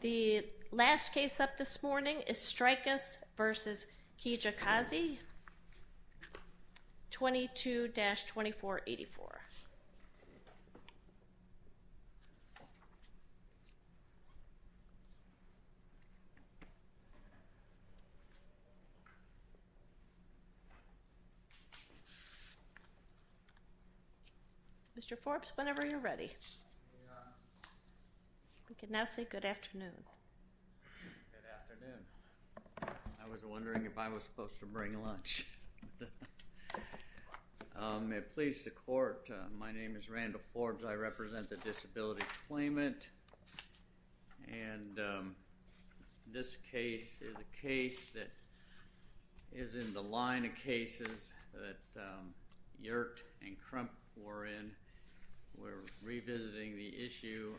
The last case up this morning is Streikus v. Kilolo Kijakazi, 22-2484. The court is adjourned. Mr. Forbes, whenever you're ready. We can now say good afternoon. Good afternoon. I was wondering if I was supposed to bring lunch. May it please the court, my name is Randall Forbes, I represent the Disability Claimant. And this case is a case that is in the line of cases that Yert and Crump were in. We're revisiting the issue,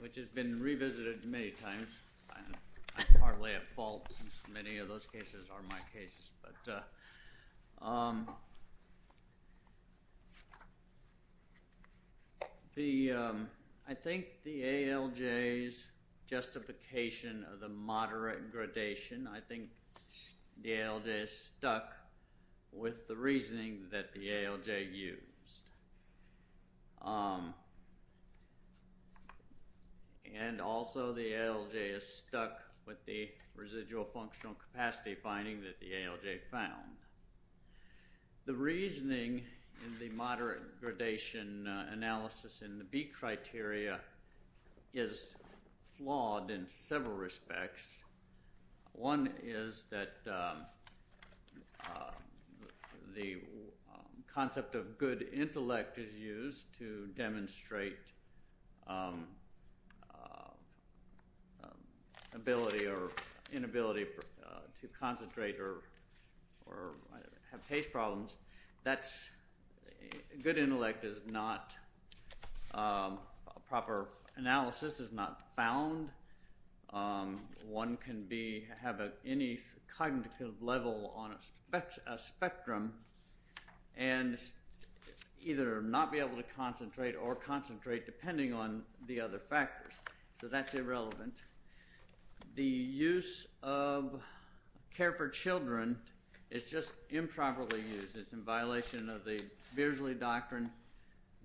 which has been revisited many times. I partly at fault since many of those cases are my cases. I think the ALJ's justification of the moderate gradation, I think the ALJ stuck with the reasoning that the ALJ used. And also, the ALJ is stuck with the residual functional capacity finding that the ALJ found. The reasoning in the moderate gradation analysis in the B criteria is flawed in several respects. One is that the concept of good intellect is used to demonstrate ability or inability to concentrate or have taste problems. Good intellect is not proper analysis, is not found. One can have any cognitive level on a spectrum and either not be able to concentrate or concentrate depending on the other factors. So that's irrelevant. The use of care for children is just improperly used. It's in violation of the Beardsley Doctrine.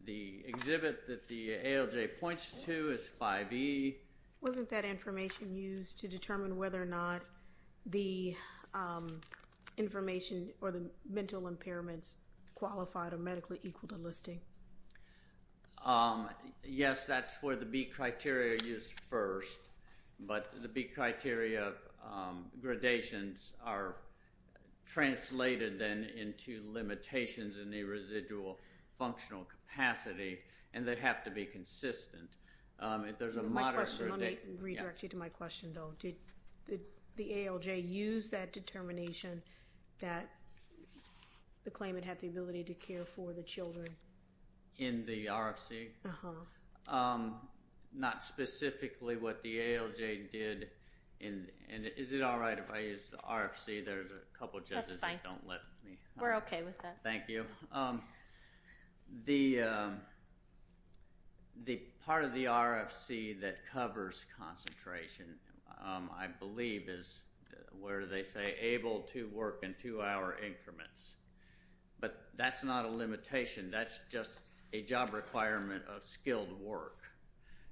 The exhibit that the ALJ points to is 5E. Wasn't that information used to determine whether or not the information or the mental impairments qualified or medically equal to listing? Yes, that's where the B criteria is first. But the B criteria gradations are translated then into limitations in the residual functional capacity, and they have to be consistent. My question, let me redirect you to my question though, did the ALJ use that determination that the claimant had the ability to care for the children? In the RFC? Not specifically what the ALJ did, and is it alright if I use the RFC, there's a couple judges that don't let me. We're okay with that. Thank you. The part of the RFC that covers concentration, I believe, is where they say able to work in two hour increments. But that's not a limitation, that's just a job requirement of skilled work,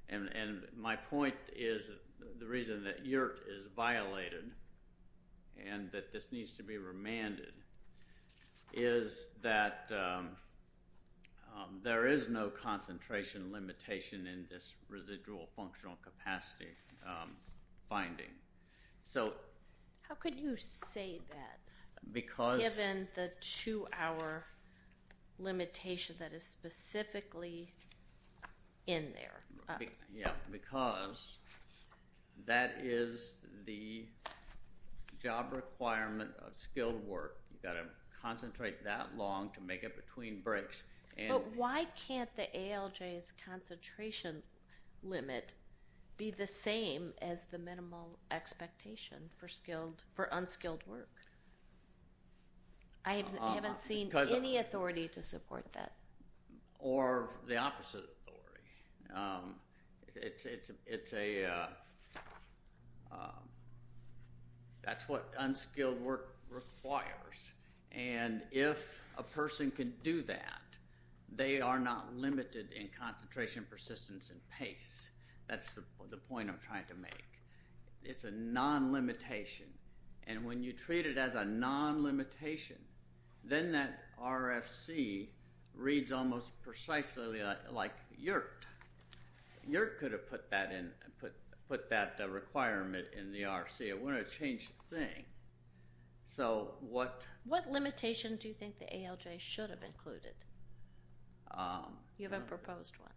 and my point is, the reason that YERT is violated, and that this needs to be remanded, is that there is no concentration limitation in this residual functional capacity finding. So how could you say that, given the two hour limitation that is specifically in there? Because that is the job requirement of skilled work, you've got to concentrate that long to make it between breaks. Why can't the ALJ's concentration limit be the same as the minimal expectation for unskilled work? I haven't seen any authority to support that. Or the opposite authority. It's a, that's what unskilled work requires, and if a person can do that, they are not limited in concentration, persistence, and pace. That's the point I'm trying to make. It's a non-limitation, and when you treat it as a non-limitation, then that RFC reads almost precisely like YERT. YERT could have put that in, put that requirement in the RFC, it wouldn't have changed a thing. So what... What limitation do you think the ALJ should have included? You haven't proposed one.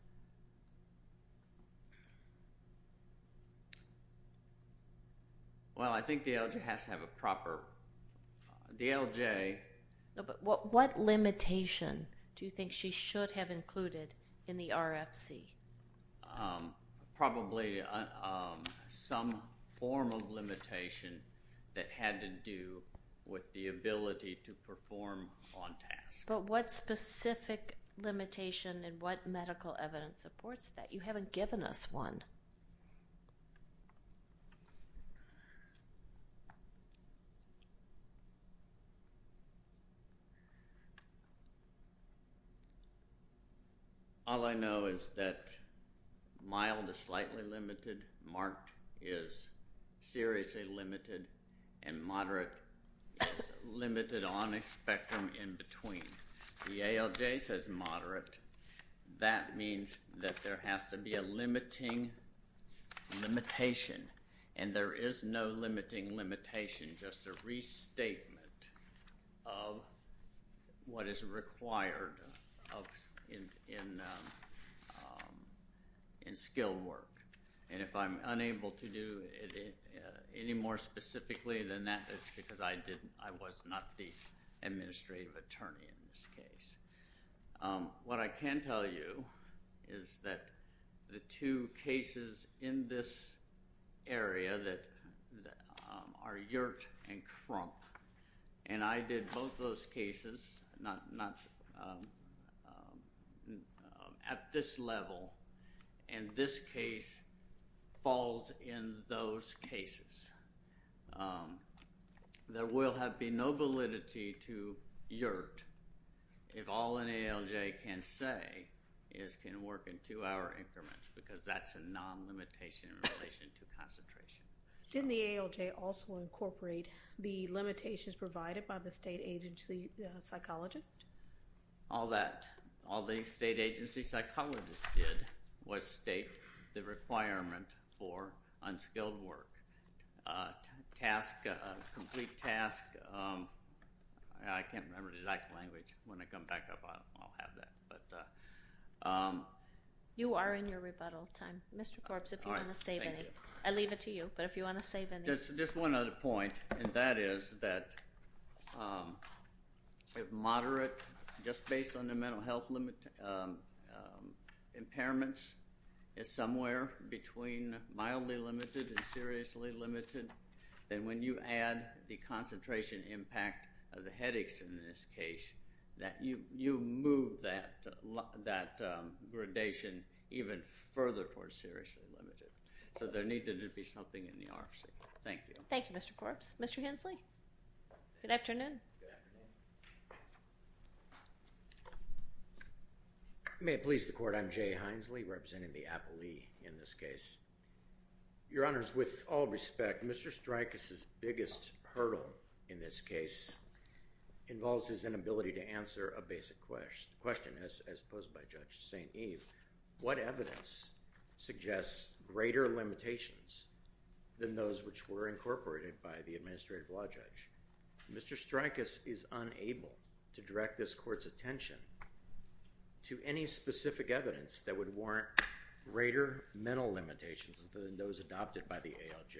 Well, I think the ALJ has to have a proper, the ALJ... What limitation do you think she should have included in the RFC? Probably some form of limitation that had to do with the ability to perform on task. But what specific limitation and what medical evidence supports that? You haven't given us one. All I know is that mild is slightly limited, marked is seriously limited, and moderate is limited on a spectrum in between. The ALJ says moderate. That means that there has to be a limiting limitation, and there is no limiting limitation, just a restatement of what is required in skilled work. And if I'm unable to do any more specifically than that, it's because I didn't, I was not the administrative attorney in this case. What I can tell you is that the two cases in this area that are Yert and Crump, and I did both those cases, not... At this level, and this case falls in those cases. There will have been no validity to Yert if all an ALJ can say is, can work in two-hour increments, because that's a non-limitation in relation to concentration. Didn't the ALJ also incorporate the limitations provided by the state agency psychologist? All that, all the state agency psychologist did was state the requirement for unskilled work. A task, a complete task, I can't remember the exact language, when I come back up, I'll have that. But... You are in your rebuttal time. Mr. Korbs, if you want to save any. All right, thank you. I leave it to you, but if you want to save any. Just one other point, and that is that if moderate, just based on the mental health impairment, is somewhere between mildly limited and seriously limited, then when you add the concentration impact of the headaches in this case, that you move that gradation even further towards seriously limited. So there needed to be something in the RFC. Thank you. Thank you, Mr. Korbs. Mr. Hensley? Good afternoon. Good afternoon. May it please the Court, I'm Jay Hensley, representing the appellee in this case. Your Honors, with all respect, Mr. Strykos' biggest hurdle in this case involves his inability to answer a basic question, as posed by Judge St. Eve. What evidence suggests greater limitations than those which were incorporated by the administrative law judge? Mr. Strykos is unable to direct this Court's attention to any specific evidence that would warrant greater mental limitations than those adopted by the ALJ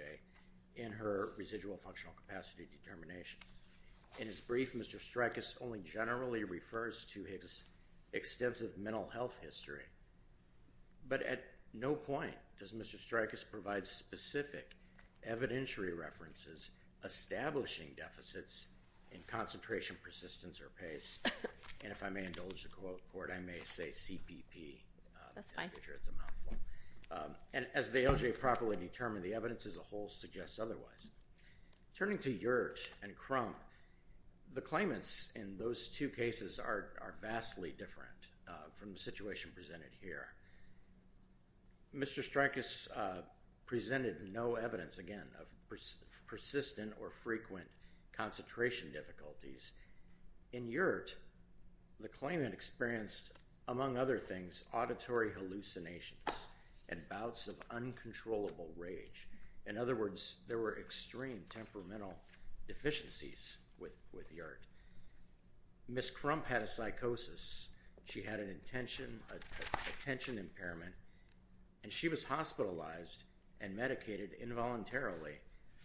in her residual functional capacity determination. In his brief, Mr. Strykos only generally refers to his extensive mental health history, but at no point does Mr. Strykos provide specific evidentiary references establishing deficits in concentration, persistence, or pace, and if I may indulge the Court, I may say CPP. As the ALJ properly determined, the evidence as a whole suggests otherwise. Turning to Yert and Crum, the claimants in those two cases are vastly different from the situation presented here. Mr. Strykos presented no evidence, again, of persistent or frequent concentration difficulties. In Yert, the claimant experienced, among other things, auditory hallucinations and bouts of uncontrollable rage. In other words, there were extreme temperamental deficiencies with Yert. Ms. Crump had a psychosis. She had an attention impairment, and she was hospitalized and medicated involuntarily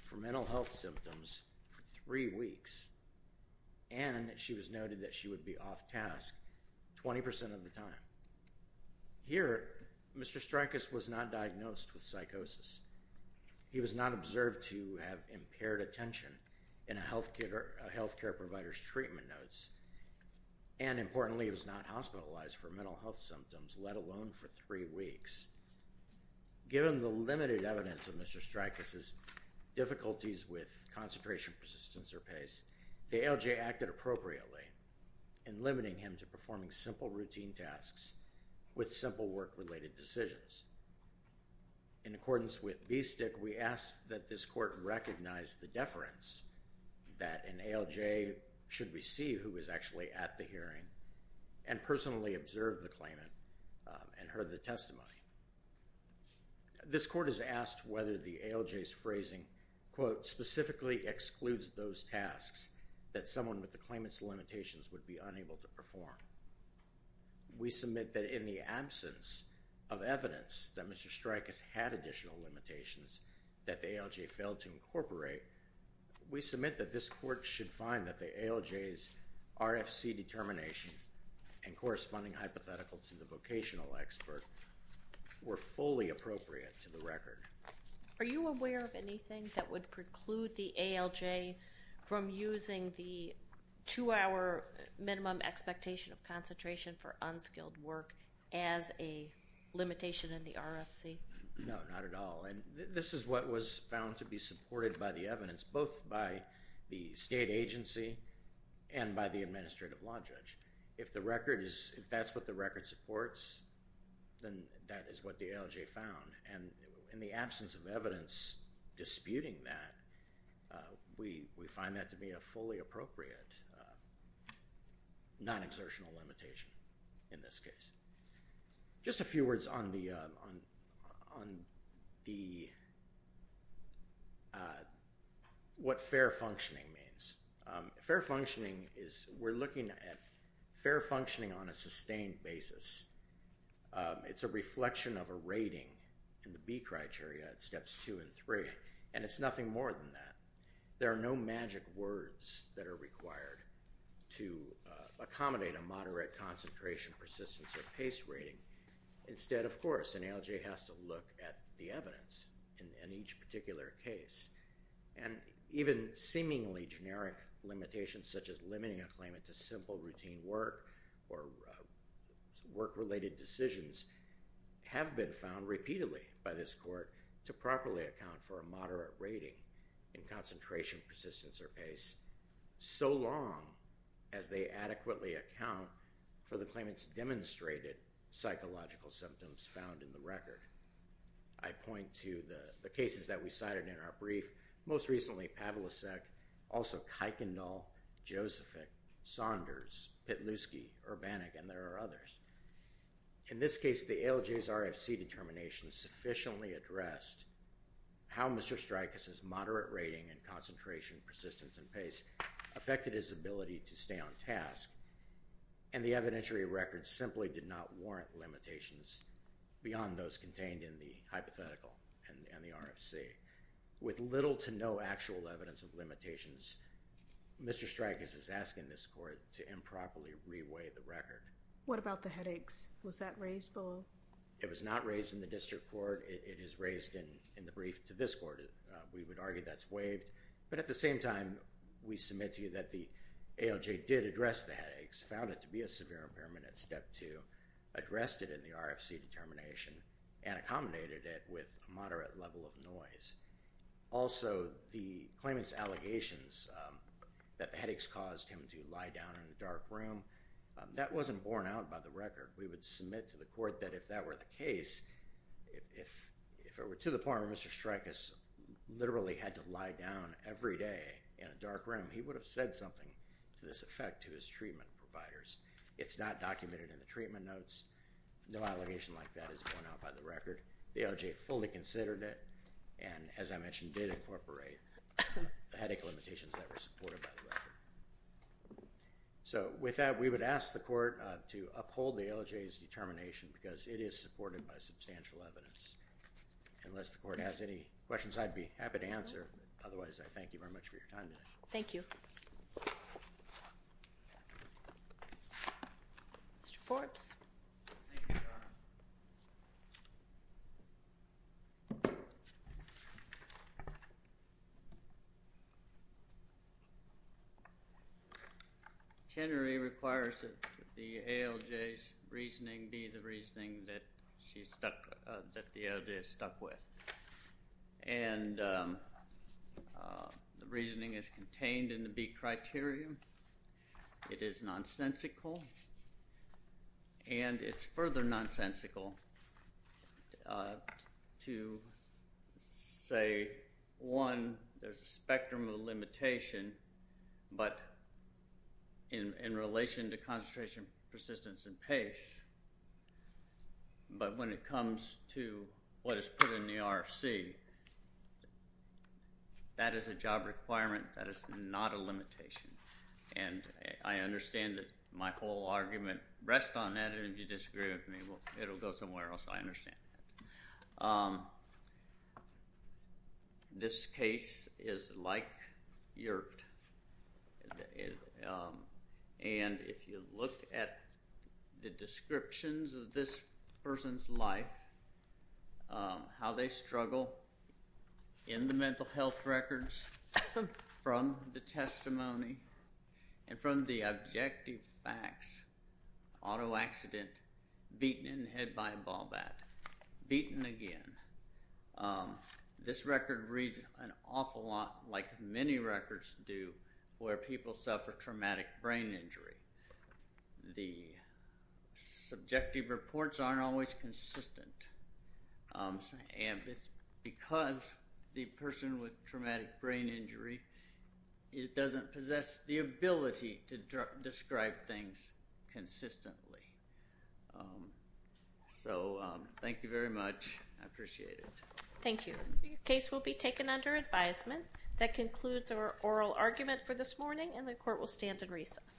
for mental health symptoms for three weeks, and she was noted that she would be off-task 20% of the time. Here, Mr. Strykos was not diagnosed with psychosis. He was not observed to have impaired attention in a healthcare provider's treatment notes, and importantly, he was not hospitalized for mental health symptoms, let alone for three weeks. Given the limited evidence of Mr. Strykos' difficulties with concentration, persistence, or pace, the ALJ acted appropriately in limiting him to performing simple routine tasks with simple work-related decisions. In accordance with VSTIC, we ask that this court recognize the deference that an ALJ should receive who is actually at the hearing and personally observe the claimant and heard the testimony. This court is asked whether the ALJ's phrasing, quote, specifically excludes those tasks that someone with the claimant's limitations would be unable to perform. We submit that in the absence of evidence that Mr. Strykos had additional limitations that the ALJ failed to incorporate, we submit that this court should find that the ALJ's RFC determination and corresponding hypothetical to the vocational expert were fully appropriate to the record. Are you aware of anything that would preclude the ALJ from using the two-hour minimum expectation of concentration for unskilled work as a limitation in the RFC? No, not at all. This is what was found to be supported by the evidence, both by the state agency and by the administrative law judge. If the record is, if that's what the record supports, then that is what the ALJ found. In the absence of evidence disputing that, we find that to be a fully appropriate non-exertional limitation in this case. Just a few words on the, what fair functioning means. Fair functioning is, we're looking at fair functioning on a sustained basis. It's a reflection of a rating in the B criteria at steps two and three, and it's nothing more than that. There are no magic words that are required to accommodate a moderate concentration, persistence, or pace rating. Instead, of course, an ALJ has to look at the evidence in each particular case. Even seemingly generic limitations such as limiting a claimant to simple routine work or work-related decisions have been found repeatedly by this court to properly account for a moderate rating in concentration, persistence, or pace so long as they adequately account for the claimant's demonstrated psychological symptoms found in the record. I point to the cases that we cited in our brief, most recently Pavlicek, also Kuykendall, Josephick, Saunders, Pitluski, Urbanik, and there are others. In this case, the ALJ's RFC determination sufficiently addressed how Mr. Strykos' moderate rating in concentration, persistence, and pace affected his ability to stay on task, and the evidentiary record simply did not warrant limitations beyond those contained in the hypothetical and the RFC. With little to no actual evidence of limitations, Mr. Strykos is asking this court to improperly re-weigh the record. What about the headaches? Was that raised below? It was not raised in the district court. It is raised in the brief to this court. We would argue that's waived, but at the same time, we submit to you that the ALJ did address the headaches, found it to be a severe impairment at step two, addressed it in the RFC determination, and accommodated it with a moderate level of noise. Also the claimant's allegations that the headaches caused him to lie down in a dark room, that wasn't borne out by the record. We would submit to the court that if that were the case, if it were to the part where Mr. Strykos literally had to lie down every day in a dark room, he would have said something to this effect to his treatment providers. It's not documented in the treatment notes. No allegation like that is borne out by the record. The ALJ fully considered it, and as I mentioned, did incorporate the headache limitations that were supported by the record. So, with that, we would ask the court to uphold the ALJ's determination, because it is supported by substantial evidence. Unless the court has any questions, I'd be happy to answer, otherwise, I thank you very much for your time today. Thank you. Mr. Forbes. Tenery requires that the ALJ's reasoning be the reasoning that she stuck, that the ALJ stuck with, and the reasoning is contained in the B criteria. It is nonsensical, and it's further nonsensical to say, one, there's a spectrum of limitation, but in relation to concentration, persistence, and pace, but when it comes to what is put in the RFC, that is a job requirement, that is not a limitation, and I understand that my whole argument rests on that, and if you disagree with me, well, it'll go somewhere else, I understand that. This case is like yurt, and if you look at the descriptions of this person's life, how they struggle in the mental health records, from the testimony, and from the objective facts, auto accident, beaten in the head by a ball bat, beaten again, this record reads an awful lot like many records do where people suffer traumatic brain injury. The subjective reports aren't always consistent, and it's because the person with traumatic brain injury doesn't possess the ability to describe things consistently. So, thank you very much, I appreciate it. Thank you. The case will be taken under advisement. That concludes our oral argument for this morning, and the court will stand in recess.